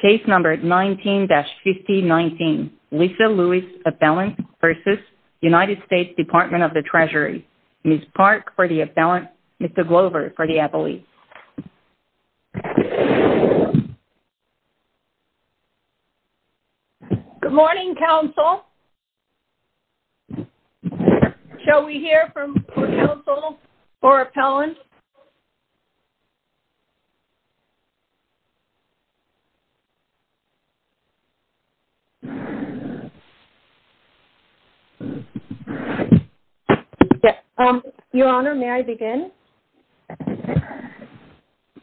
case number 19-5019 Lisa Lewis appellant v. United States Department of the Treasury Ms. Park for the appellant, Mr. Glover for the appellate good morning counsel shall we hear from counsel for appellant your honor may I begin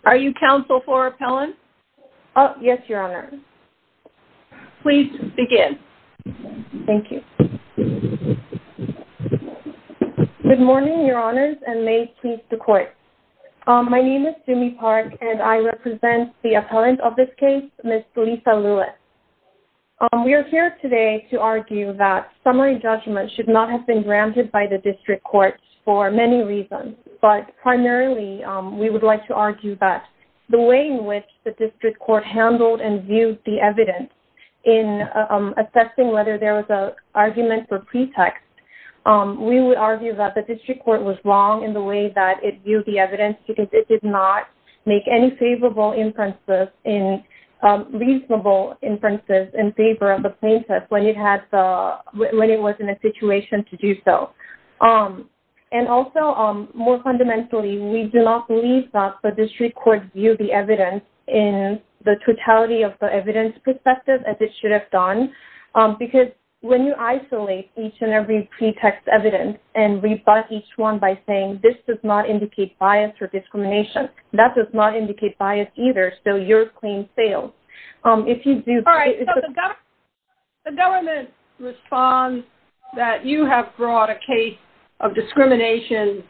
are you counsel for appellant yes your honor please begin thank you good morning your honors and may it please the court my name is Sumi Park and I represent the appellant of this case Ms. Lisa Lewis we are here today to argue that summary judgment should not have been granted by the district courts for many reasons but primarily we would like to argue that the way in which the district court handled and viewed the evidence in assessing whether there was a argument for pretext we would argue that the district court was wrong in the way that it viewed the evidence because it did not make any favorable inferences in reasonable inferences in favor of the plaintiff when it had the when it was in a situation to do so and also more fundamentally we do not believe that the district court view the evidence in the totality of the evidence perspective as it should have done because when you isolate each and every pretext evidence and rebut each one by saying this does not indicate bias or discrimination that does not indicate bias either so you're clean sales if you do all right the government responds that you have brought a case of discrimination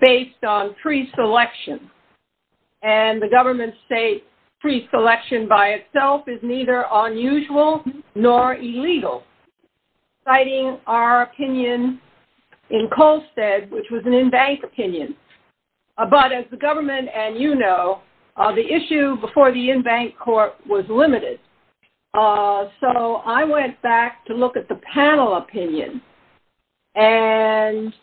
based on pre-selection and the government state pre-selection by itself is neither unusual nor illegal citing our opinion in Colstead which was an in-bank opinion but as the government and you know the issue before the in-bank court was limited so I went back to look at the panel opinion and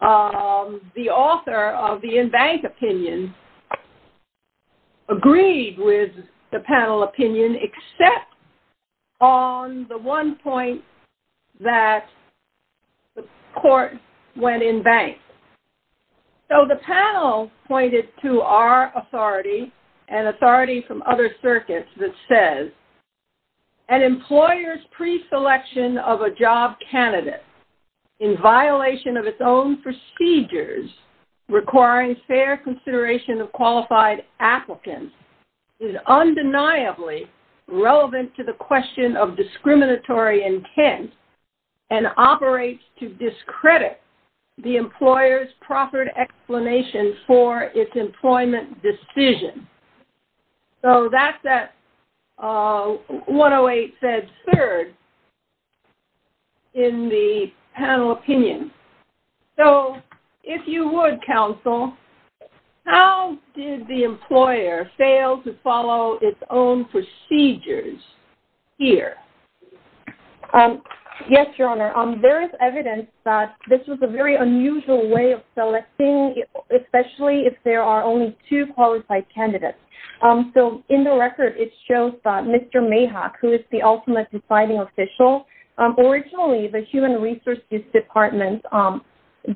the author of the in-bank opinion agreed with the panel opinion except on the one point that the court went in bank so the panel pointed to our authority and authority from other circuits that says an employer's pre-selection of a job candidate in violation of its own procedures requiring fair consideration of qualified applicants is undeniably relevant to the question of proffered explanation for its employment decision so that's that 108 said third in the panel opinion so if you would counsel how did the employer fail to follow its own procedures here yes your honor there is evidence that this was a very unusual way of selecting especially if there are only two qualified candidates so in the record it shows that Mr. Mayhawk who is the ultimate deciding official originally the human resources department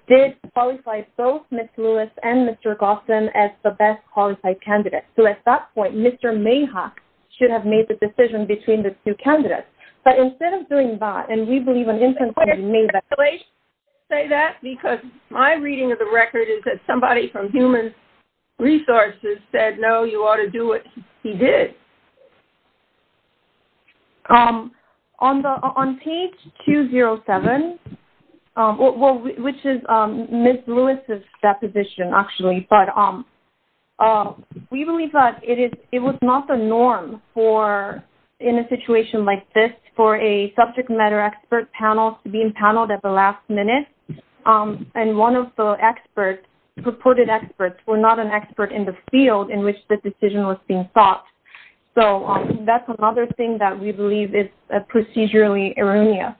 did qualify both Ms. Lewis and Mr. Gossin as the best qualified candidates so at that point Mr. Mayhawk should have made the decision between the two candidates but instead of doing that and we believe an instance may say that because my reading of the record is that somebody from human resources said no you ought to do what he did um on the on page 207 um well which is um Ms. Lewis's deposition actually but um we believe that it is it was not the norm for in a situation like this for a subject matter expert panel to be paneled at the last minute um and one of the experts purported experts were not an expert in the field in which the decision was being sought so that's another thing that we believe is a procedurally erroneous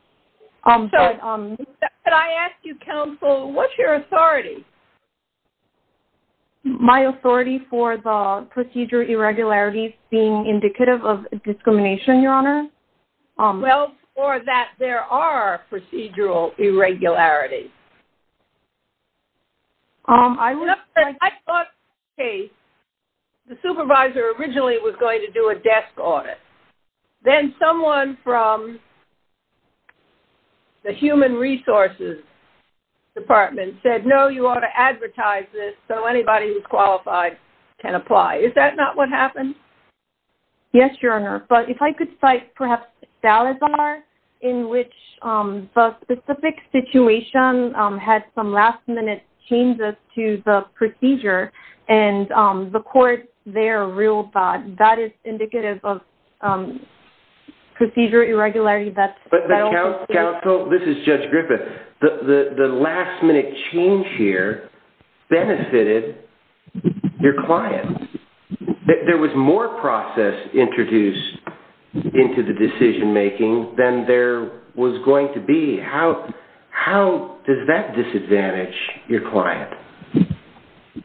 um but um but i asked you counsel what's your authority my authority for the procedural irregularities being indicative of discrimination your honor um well or that there are procedural irregularities um i'm not i thought okay the supervisor originally was going to do a desk audit then someone from the human resources department said no you ought to advertise this so anybody who's qualified can apply is that not what happened yes your honor but if i could cite perhaps salazar in which um the specific situation um had some last-minute changes to the procedure and um the court their real thought that is indicative of um procedure irregularity that but the council this is judge griffith the the last minute change here benefited your client there was more process introduced into the decision making than there was going to be how how does that disadvantage your client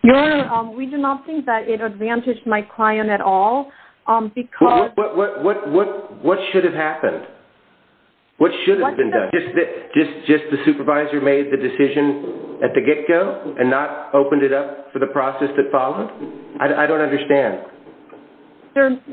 your honor um we do not think that it advantaged my client at all um because what what what should have happened what should have been done just just just the supervisor made the decision at the get-go and not opened it up for the process that followed i don't understand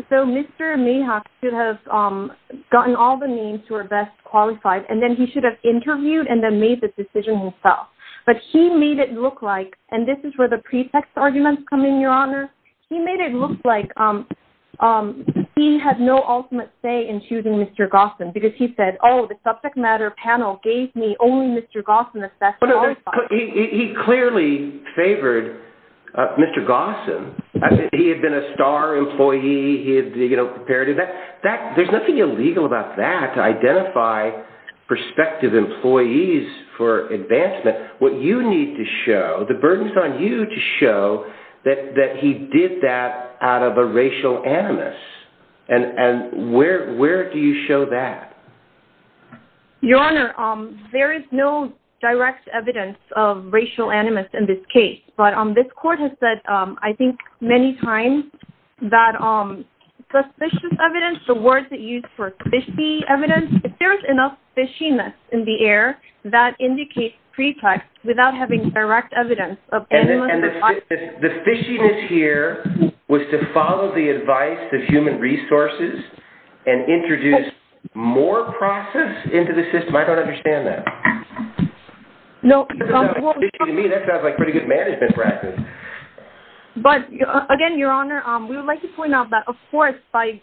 so mr mayhawk should have um gotten all the names who are best qualified and then he should have interviewed and then made the decision himself but he made it look like and this is where the pretext arguments come in your honor he made it look like um um he had no ultimate say in choosing mr gossam because he said oh the subject matter panel gave me only mr gossam assessed he clearly favored uh mr gossam i think he had been a star employee he had you know compared to that that there's nothing illegal about that to identify prospective employees for advancement what you need to show the burdens on you to show that that he did that out of a racial animus and and where where do you show that your honor um there is no direct evidence of racial animus in this but um this court has said um i think many times that um suspicious evidence the words that used for fishy evidence if there's enough fishiness in the air that indicates pretext without having direct evidence and the fishiness here was to follow the advice of human resources and introduce more process into the system i don't understand that no to me that sounds like pretty good management practice but again your honor um we would like to point out that of course by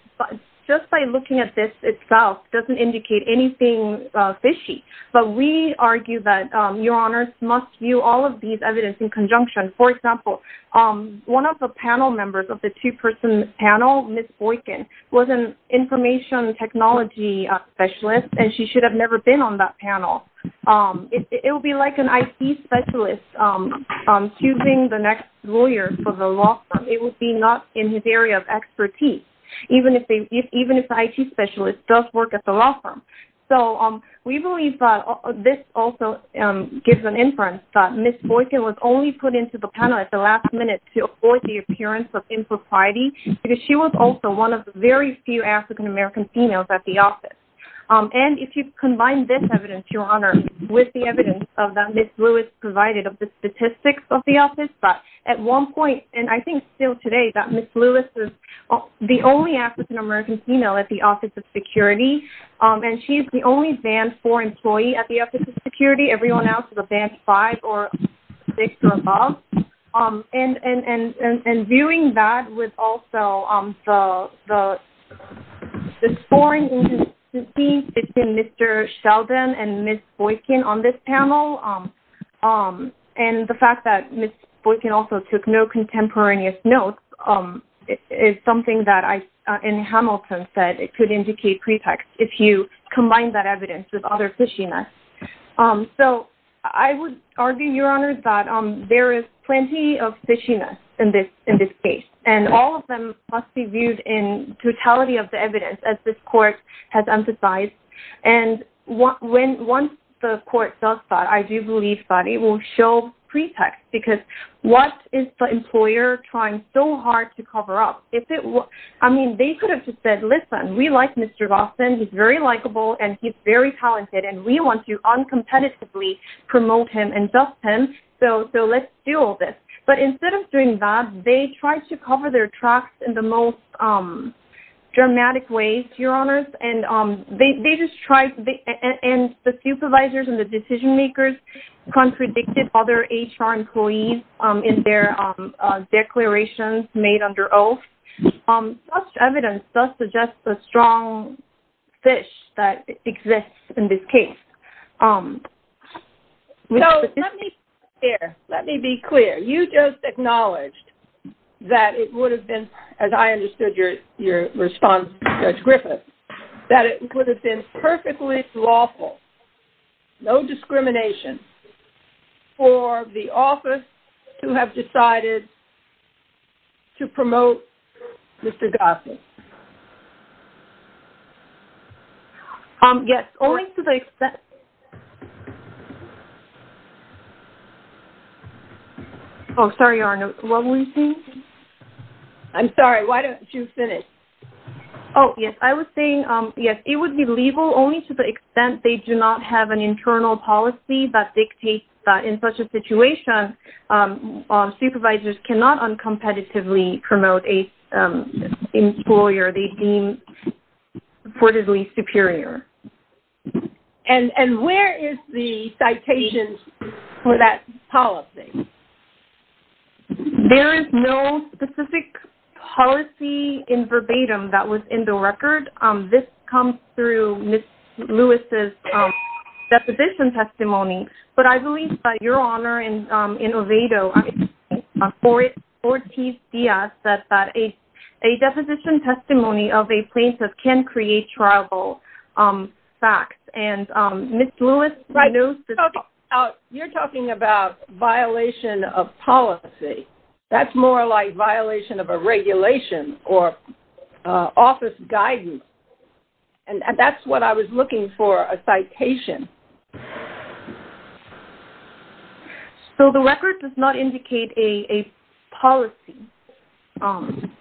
just by looking at this itself doesn't indicate anything uh fishy but we argue that um your honors must view all of these evidence in conjunction for example um one of the panel members of the two-person panel miss boykin was an information technology specialist and she should have never been on that panel um it will be like an it specialist um um choosing the next lawyer for the law firm it would be not in his area of expertise even if they even if the it specialist does work at the law firm so um we believe that this also um gives an inference that miss boykin was only put into the panel at the last minute to avoid the appearance of um and if you combine this evidence your honor with the evidence of that miss lewis provided of the statistics of the office but at one point and i think still today that miss lewis is the only african-american female at the office of security um and she's the only band four employee at the office of security everyone else is a band five or six or above um and and and and viewing that with also um the the the scoring agency between mr sheldon and miss boykin on this panel um and the fact that miss boykin also took no contemporaneous notes um is something that i in hamilton said it could indicate pretext if you combine that evidence with other fishiness um so i would argue your honor that um there is plenty of fishiness in this in this case and all of them must be viewed in totality of the evidence as this court has emphasized and what when once the court does that i do believe that it will show pretext because what is the employer trying so hard to cover up if it was i mean they could have just said listen we like mr lawson he's very likable and he's very talented and we want to uncompetitively promote him and dust him so so let's do all this but instead of doing that they tried to cover their tracks in the most um dramatic ways your honors and um they they just tried and the supervisors and the decision makers contradicted other hr employees um in their declarations made under oath um such evidence does suggest a strong fish that exists in this case um let me be clear let me be clear you just acknowledged that it would have been as i understood your your response judge griffith that it would have been perfectly lawful no discrimination for the office to have decided to promote mr gosselin um yes only to the extent oh sorry arnold what were you saying i'm sorry why don't you finish oh yes i was saying um yes it would be legal only to the extent they do not have an internal policy that dictates that in such a cannot uncompetitively promote a employer they deem reportedly superior and and where is the citation for that policy there is no specific policy in verbatim that was in the record um this comes through miss lewis's um deposition testimony but i believe your honor in um in ovato i mean for it for tcs that that a a deposition testimony of a plaintiff can create tribal um facts and um miss lewis right no you're talking about violation of policy that's more like violation of a regulation or uh office guidance and that's what i was looking for a citation so the record does not indicate a a policy um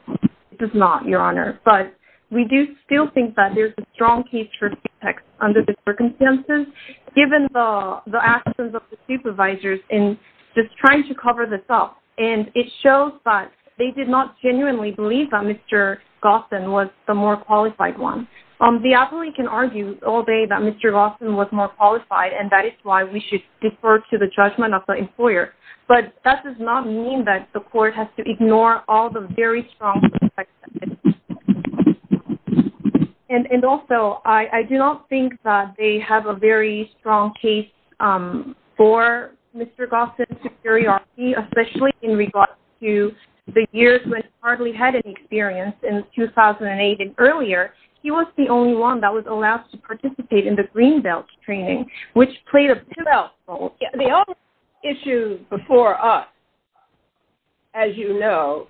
it does not your honor but we do still think that there's a strong case for text under the circumstances given the the actions of the supervisors in just trying to cover this up and it shows that they did not genuinely believe that was the more qualified one um the appellee can argue all day that mr gosselin was more qualified and that is why we should defer to the judgment of the employer but that does not mean that the court has to ignore all the very strong effects and and also i i do not think that they have a very strong case um for mr gosselin superiority especially in regards to the years when hardly had any experience in 2008 and earlier he was the only one that was allowed to participate in the green belt training which played a pivotal role the only issue before us as you know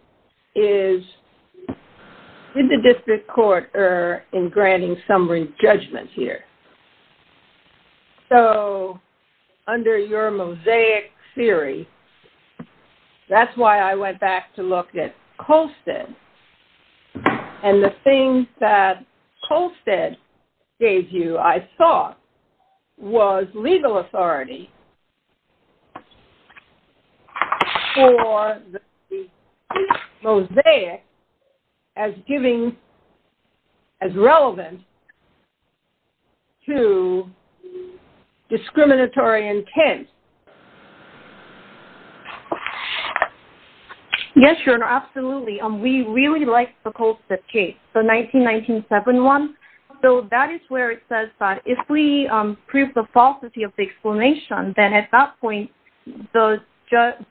is did the district court err in granting summary judgment here so under your mosaic theory that's why i went back to look at colstead and the thing that colstead gave you i thought was legal authority for the mosaic as giving as relevant to discriminatory intent yes your honor absolutely um we really like the colstead case the 1997 one so that is where it then at that point the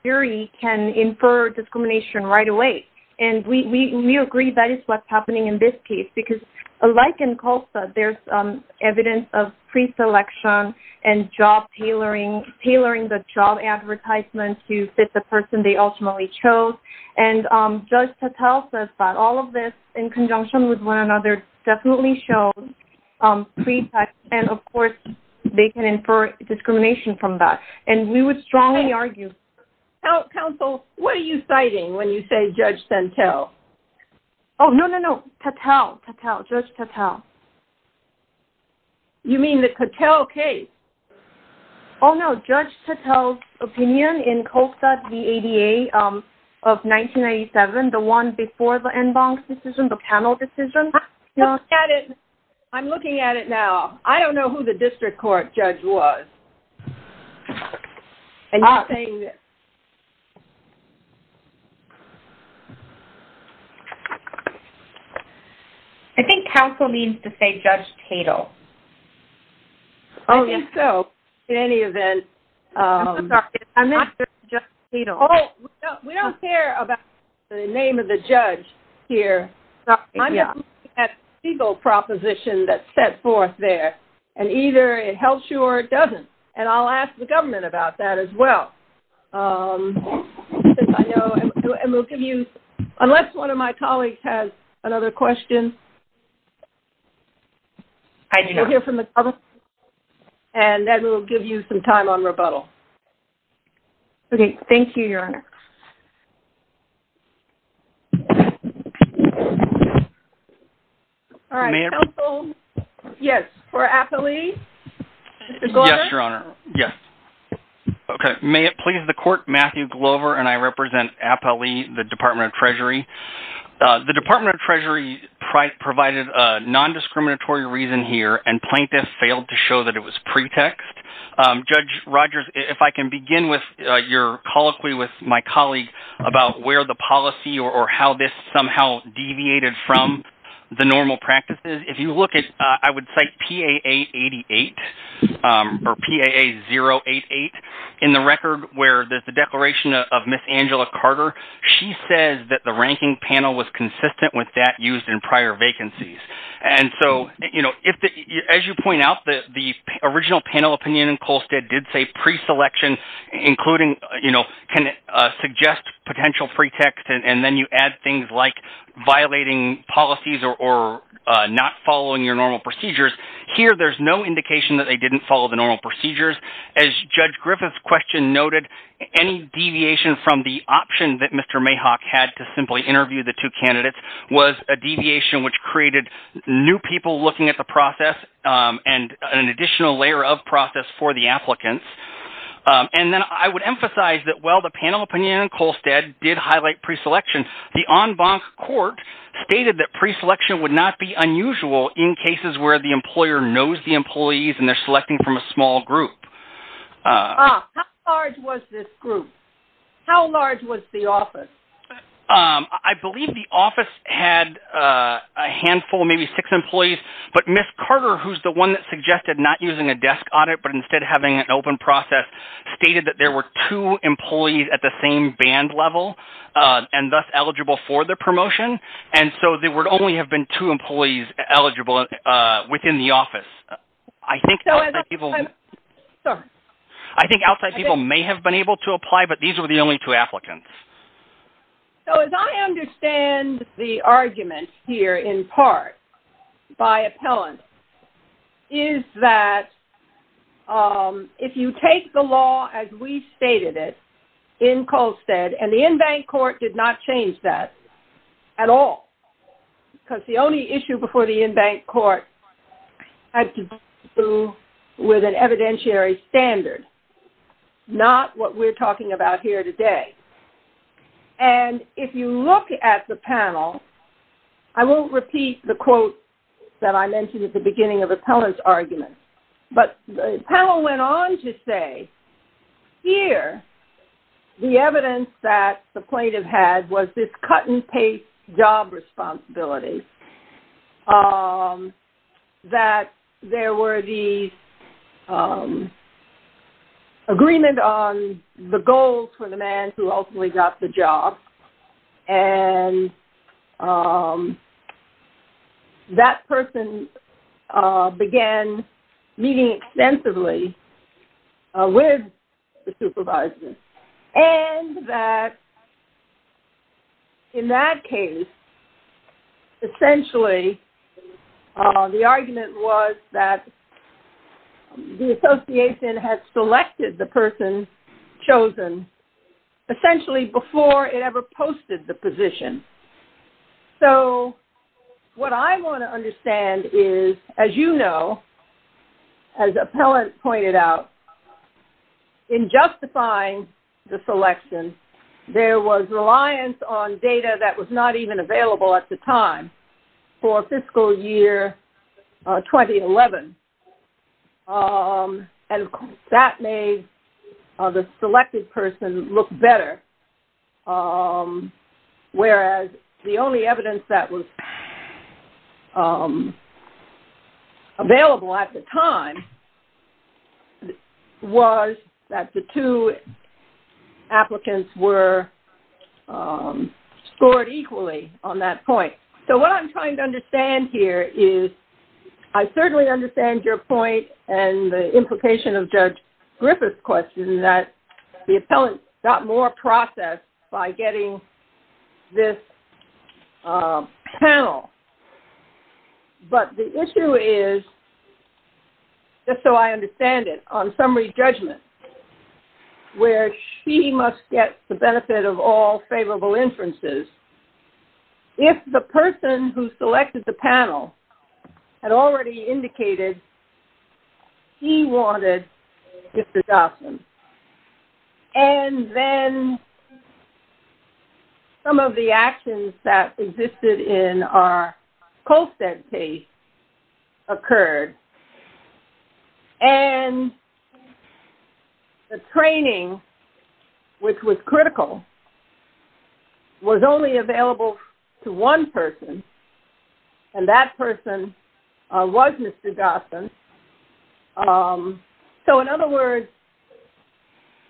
jury can infer discrimination right away and we we agree that is what's happening in this case because like in colstead there's um evidence of pre-selection and job tailoring tailoring the job advertisement to fit the person they ultimately chose and um judge patel says that all of this in conjunction with one another definitely showed um pretext and of course they can infer discrimination from that and we would strongly argue counsel what are you citing when you say judge sentel oh no no no tatao tatao judge tatao you mean the cattel case oh no judge tattles opinion in colstead vada um of 1997 the one before the inbox decision the panel decision look at it i'm looking at it now i don't know who the district court judge was and you're saying this i think counsel means to say judge tatao only so in any event um just you know we don't care about the name of the judge here that legal proposition that's set forth there and either it helps you or it doesn't and i'll ask the government about that as well um i know and we'll give you unless one of my colleagues has another question i didn't hear from the public and then we'll give you some time on rebuttal okay thank you your honor all right yes for appley yes your honor yes okay may it please the court matthew glover and i provided a non-discriminatory reason here and plaintiff failed to show that it was pretext judge rogers if i can begin with your colloquy with my colleague about where the policy or how this somehow deviated from the normal practices if you look at i would cite paa 88 or paa 088 in the record where there's the declaration of miss angela carter she says that the ranking panel was consistent with that used in prior vacancies and so you know if as you point out that the original panel opinion in colstead did say pre-selection including you know can suggest potential pretext and then you add things like violating policies or not following your normal procedures here there's no indication that they didn't follow the normal procedures as judge griffith's question noted any deviation from the option that mr mayhawk had to simply interview the two candidates was a deviation which created new people looking at the process um and an additional layer of process for the applicants and then i would emphasize that while the panel opinion in colstead did highlight pre-selection the en banc court stated that pre-selection would not be unusual in cases where the employer knows the employees and they're selecting from a small group uh how large was this group how large was the office um i believe the office had uh a handful maybe six employees but miss carter who's the one that suggested not using a desk audit but instead having an open process stated that there were two employees at the same band level uh and thus eligible for the promotion and so there would only have been two employees eligible uh within the sorry i think outside people may have been able to apply but these were the only two applicants so as i understand the argument here in part by appellant is that um if you take the law as we stated it in colstead and the en banc court did not change that at all because the only issue before the en banc court had to do with an evidentiary standard not what we're talking about here today and if you look at the panel i won't repeat the quote that i mentioned at the beginning of appellant's argument but the panel went on to say here the evidence that the plaintiff had was this job responsibility um that there were these um agreement on the goals for the man who ultimately got the job and um that person uh began meeting extensively with the supervisor and that in that case essentially uh the argument was that the association had selected the person chosen essentially before it ever posted the position so what i want to understand is as you know as appellant pointed out in justifying the selection there was reliance on data that was not even available at the time for fiscal year 2011 um and that made the selected person look better um whereas the only evidence that was um available at the time was that the two applicants were um scored equally on that point so what i'm trying to understand here is i certainly understand your point and the implication of judge griffith's that the appellant got more process by getting this panel but the issue is just so i understand it on summary judgment where she must get the benefit of all favorable inferences if the person who selected the panel had already indicated he wanted mr dotson and then some of the actions that existed in our colstead case occurred and the training which was critical was only available to one person and that person was mr dotson um so in other words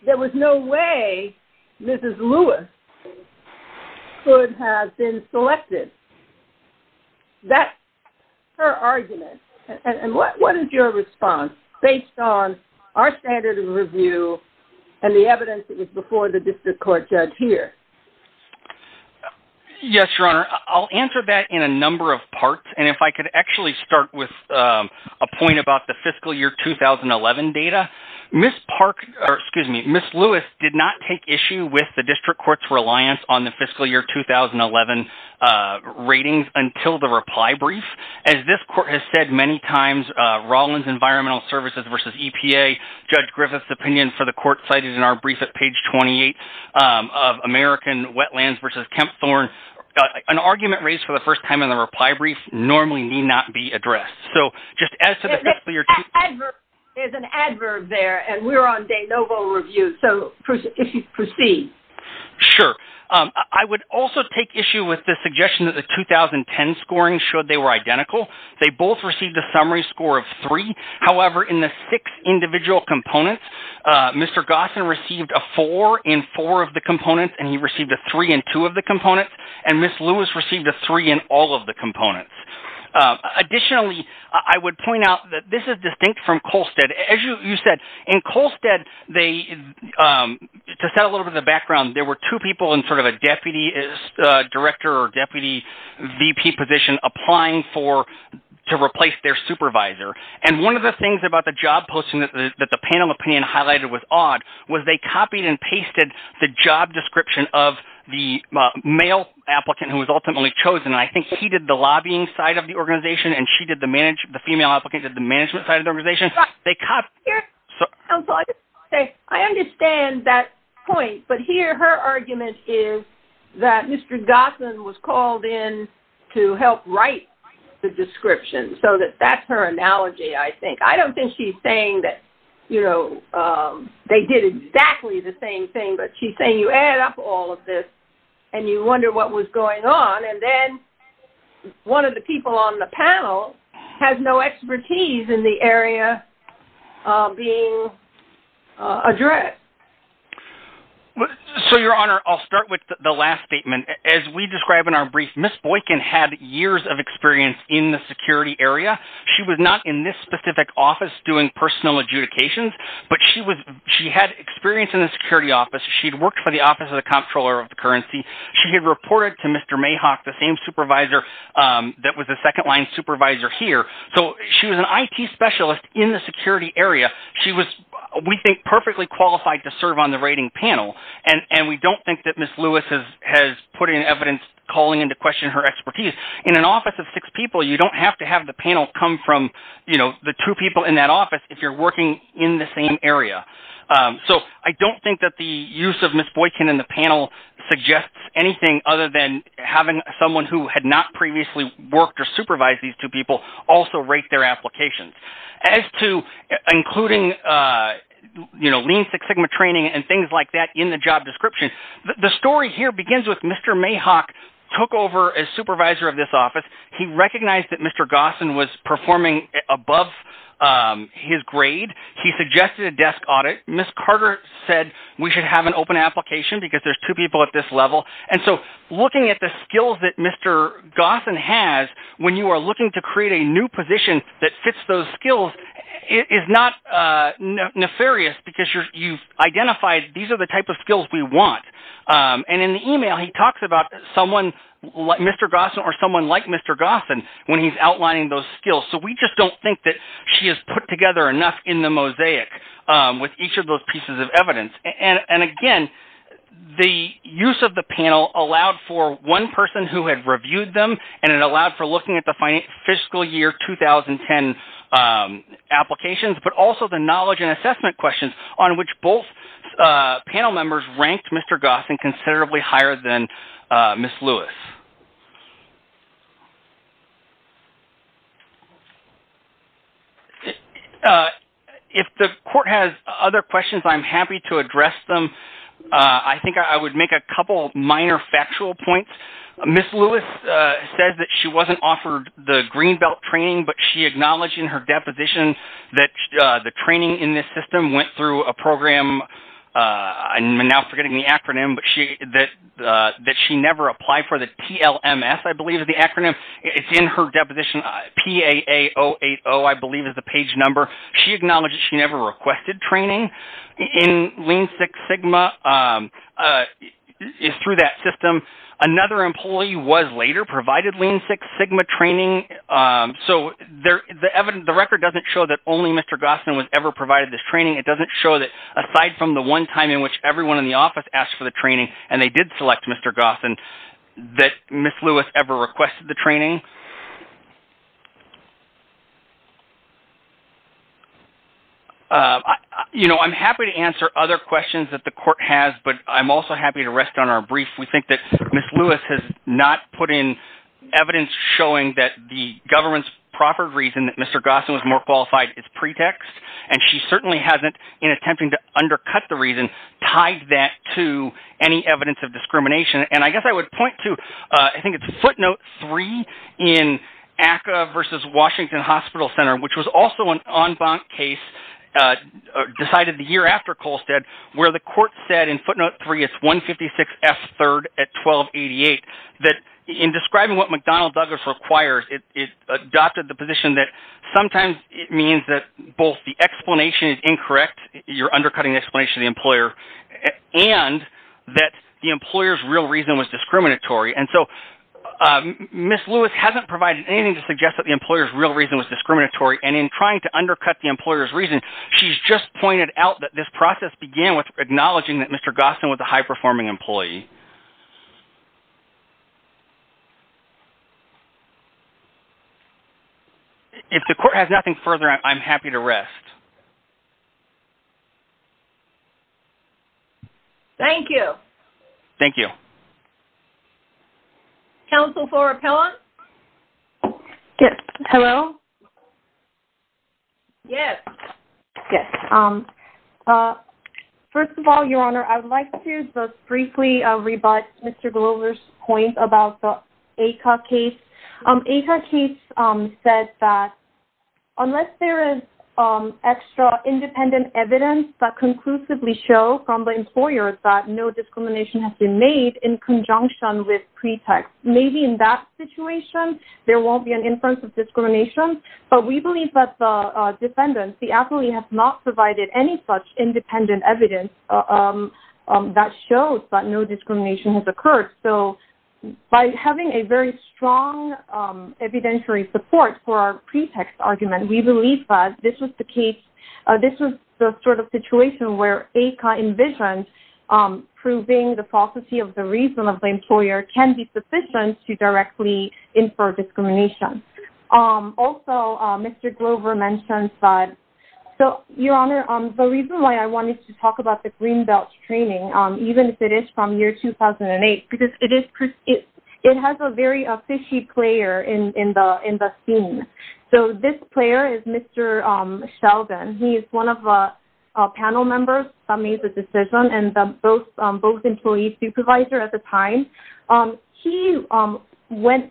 there was no way mrs lewis could have been selected that's her argument and what what is your response based on our standard of review and the evidence that was before the district court judge here uh yes your honor i'll answer that in a number of parts and if i could actually start with um a point about the fiscal year 2011 data miss park or excuse me miss lewis did not take issue with the district court's reliance on the fiscal year 2011 uh ratings until the reply brief as this court has said many times uh roland's environmental services versus epa judge griffith's opinion for brief at page 28 of american wetlands versus kemp thorne an argument raised for the first time in the reply brief normally need not be addressed so just as to the fiscal year there's an adverb there and we're on de novo review so if you proceed sure um i would also take issue with the suggestion that the 2010 scoring showed they were identical they both received a summary score however in the six individual components uh mr gossan received a four in four of the components and he received a three and two of the components and miss lewis received a three in all of the components additionally i would point out that this is distinct from colstead as you said in colstead they um to settle over the background there were two people in sort of a deputy director or deputy vp position applying for to replace their supervisor and one of the things about the job posting that the panel opinion highlighted was odd was they copied and pasted the job description of the male applicant who was ultimately chosen i think he did the lobbying side of the organization and she did the manage the female applicant did the management side of the mr gossan was called in to help write the description so that that's her analogy i think i don't think she's saying that you know um they did exactly the same thing but she's saying you add up all of this and you wonder what was going on and then one of the people on the panel has no expertise in the area being addressed so your honor i'll start with the last statement as we describe in our brief miss boykin had years of experience in the security area she was not in this specific office doing personal adjudications but she was she had experience in the security office she'd worked for the office of the comptroller of the currency she had reported to mr mayhawk the same supervisor um that was second-line supervisor here so she was an it specialist in the security area she was we think perfectly qualified to serve on the rating panel and and we don't think that miss lewis has has put in evidence calling into question her expertise in an office of six people you don't have to have the panel come from you know the two people in that office if you're working in the same area um so i don't think that the use of miss boykin and the panel suggests anything other than having someone who had not previously worked or supervised these two people also rate their applications as to including uh you know lean six sigma training and things like that in the job description the story here begins with mr mayhawk took over as supervisor of this office he recognized that mr gossan was performing above um his grade he suggested a desk audit miss carter said we should have an open application because there's two people at this level and so looking at the skills that mr gossan has when you are looking to create a new position that fits those skills it is not uh nefarious because you're you've identified these are the type of skills we want um and in the email he talks about someone like mr gossan or someone like mr gossan when he's outlining those skills so we just don't think that she has put together enough in the mosaic with each of those pieces of evidence and and again the use of the panel allowed for one person who had reviewed them and it allowed for looking at the financial fiscal year 2010 um applications but also the knowledge and assessment questions on which both uh panel if the court has other questions i'm happy to address them uh i think i would make a couple minor factual points miss lewis uh says that she wasn't offered the green belt training but she acknowledged in her deposition that uh the training in this system went through a program uh i'm now forgetting the acronym but she that uh that she never applied for the tlms i believe the acronym it's in her deposition paa 080 i believe is the page number she acknowledged she never requested training in lean six sigma um uh is through that system another employee was later provided lean six sigma training um so there the evidence the record doesn't show that only mr gossan was ever provided this training it doesn't show that aside from the one time in which everyone in the office asked for the training and they did select mr gossan that miss lewis ever requested the training uh you know i'm happy to answer other questions that the court has but i'm also happy to rest on our brief we think that miss lewis has not put in evidence showing that the government's proper reason that mr gossan was more qualified is pretext and she certainly hasn't in attempting to undercut the reason tied that to any evidence of discrimination and i guess i would point to i think it's footnote three in aka versus washington hospital center which was also an en banc case uh decided the year after colstead where the court said in footnote three it's 156 f third at 1288 that in describing what mcdonald douglas requires it adopted the position that sometimes it means that both the explanation is incorrect you're undercutting the explanation the employer and that the employer's real reason was discriminatory and so miss lewis hasn't provided anything to suggest that the employer's real reason was discriminatory and in trying to undercut the employer's reason she's just pointed out that this process began with acknowledging that mr gossan was a high-performing employee if the court has nothing further i'm happy to rest thank you thank you counsel for appellant yes hello yes yes um uh first of all your honor i would like to just briefly uh rebut mr glover's point about the aka case um aka case um said that unless there is um independent evidence that conclusively show from the employer that no discrimination has been made in conjunction with pretext maybe in that situation there won't be an inference of discrimination but we believe that the uh defendants the affilee has not provided any such independent evidence um that shows that no discrimination has occurred so by having a very strong um evidentiary support for our pretext argument we believe that this the case uh this was the sort of situation where aka envisioned um proving the falsity of the reason of the employer can be sufficient to directly infer discrimination um also uh mr glover mentioned that so your honor um the reason why i wanted to talk about the green belt training um even if it is from year 2008 because it is it it has a very a fishy player in in the in the scene so this player is mr um sheldon he is one of the panel members that made the decision and the both both employees supervisor at the time um he um went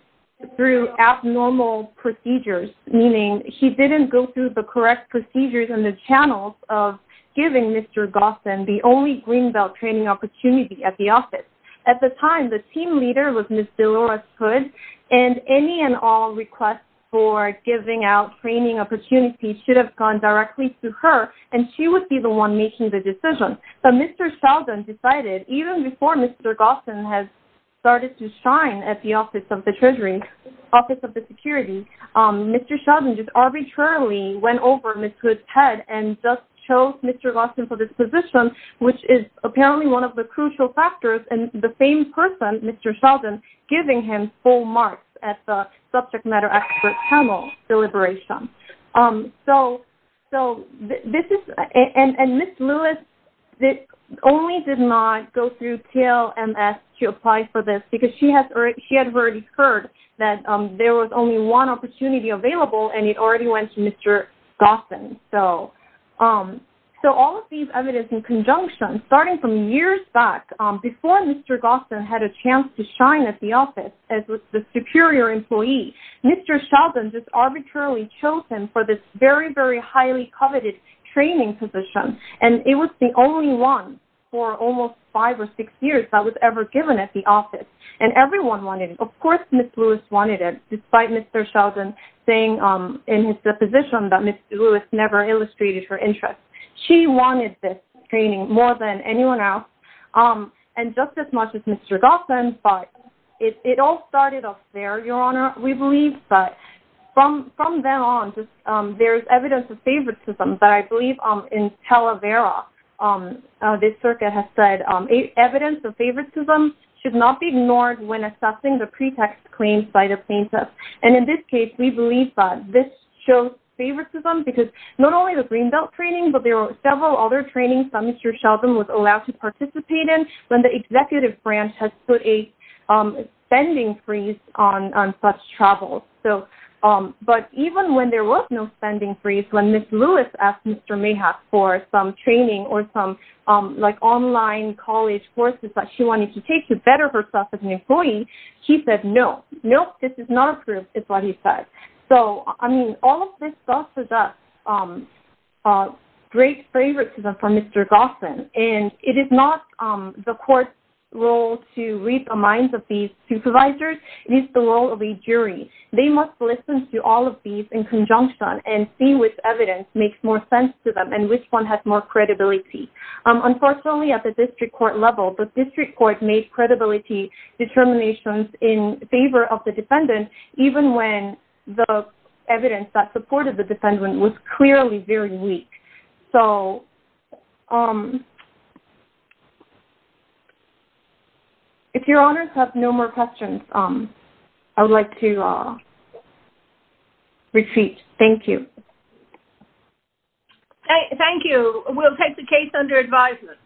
through abnormal procedures meaning he didn't go through the correct procedures and the channels of giving mr gossan the only green belt training opportunity at the office at the time the team leader was miss delores hood and any and all requests for giving out training opportunities should have gone directly to her and she would be the one making the decision but mr sheldon decided even before mr gossan has started to shine at the office of the treasury office of the security um mr sheldon just arbitrarily went over miss hood's head and just chose mr gossan for this position which is apparently one of the crucial factors and the same person mr sheldon giving him full marks at the subject matter expert panel deliberation um so so this is and and miss lewis that only did not go through tlms to apply for this because she has she had already heard that um there was only one opportunity available and it already went to mr gossan so um so all of these evidence in conjunction starting from years back um before mr gossan had a chance to shine at the office as with the superior employee mr sheldon just arbitrarily chose him for this very very highly coveted training position and it was the only one for almost five or six years that was ever given at the office and everyone wanted it of course miss lewis wanted it despite mr sheldon saying um in his deposition that miss lewis never illustrated her interest she wanted this training more than anyone else um and just as much as mr gossan but it all started up there your honor we believe but from from then on just um there's evidence of favoritism but i believe um in talavera um this circuit has said um evidence of favoritism should not be ignored when assessing the pretext claims by the plaintiff and in this case we believe that this shows favoritism because not only the green belt training but there were several other trainings that mr sheldon was allowed to participate in when the executive branch has put a um spending freeze on on such travels so um but even when there was no spending freeze when miss lewis asked mr mayhap for some training or some um like online college courses that she wanted to take to better herself as an employee he said no nope this is not approved is what he said so i mean all of this stuff is a um great favoritism for mr gossan and it is not um the court's role to read the minds of these supervisors it is the role of a jury they must listen to all of these in conjunction and see which evidence makes more sense to them and which one has more credibility um unfortunately at the in favor of the defendant even when the evidence that supported the defendant was clearly very weak so um if your honors have no more questions um i would like to uh thank you thank you we'll take the case under advisement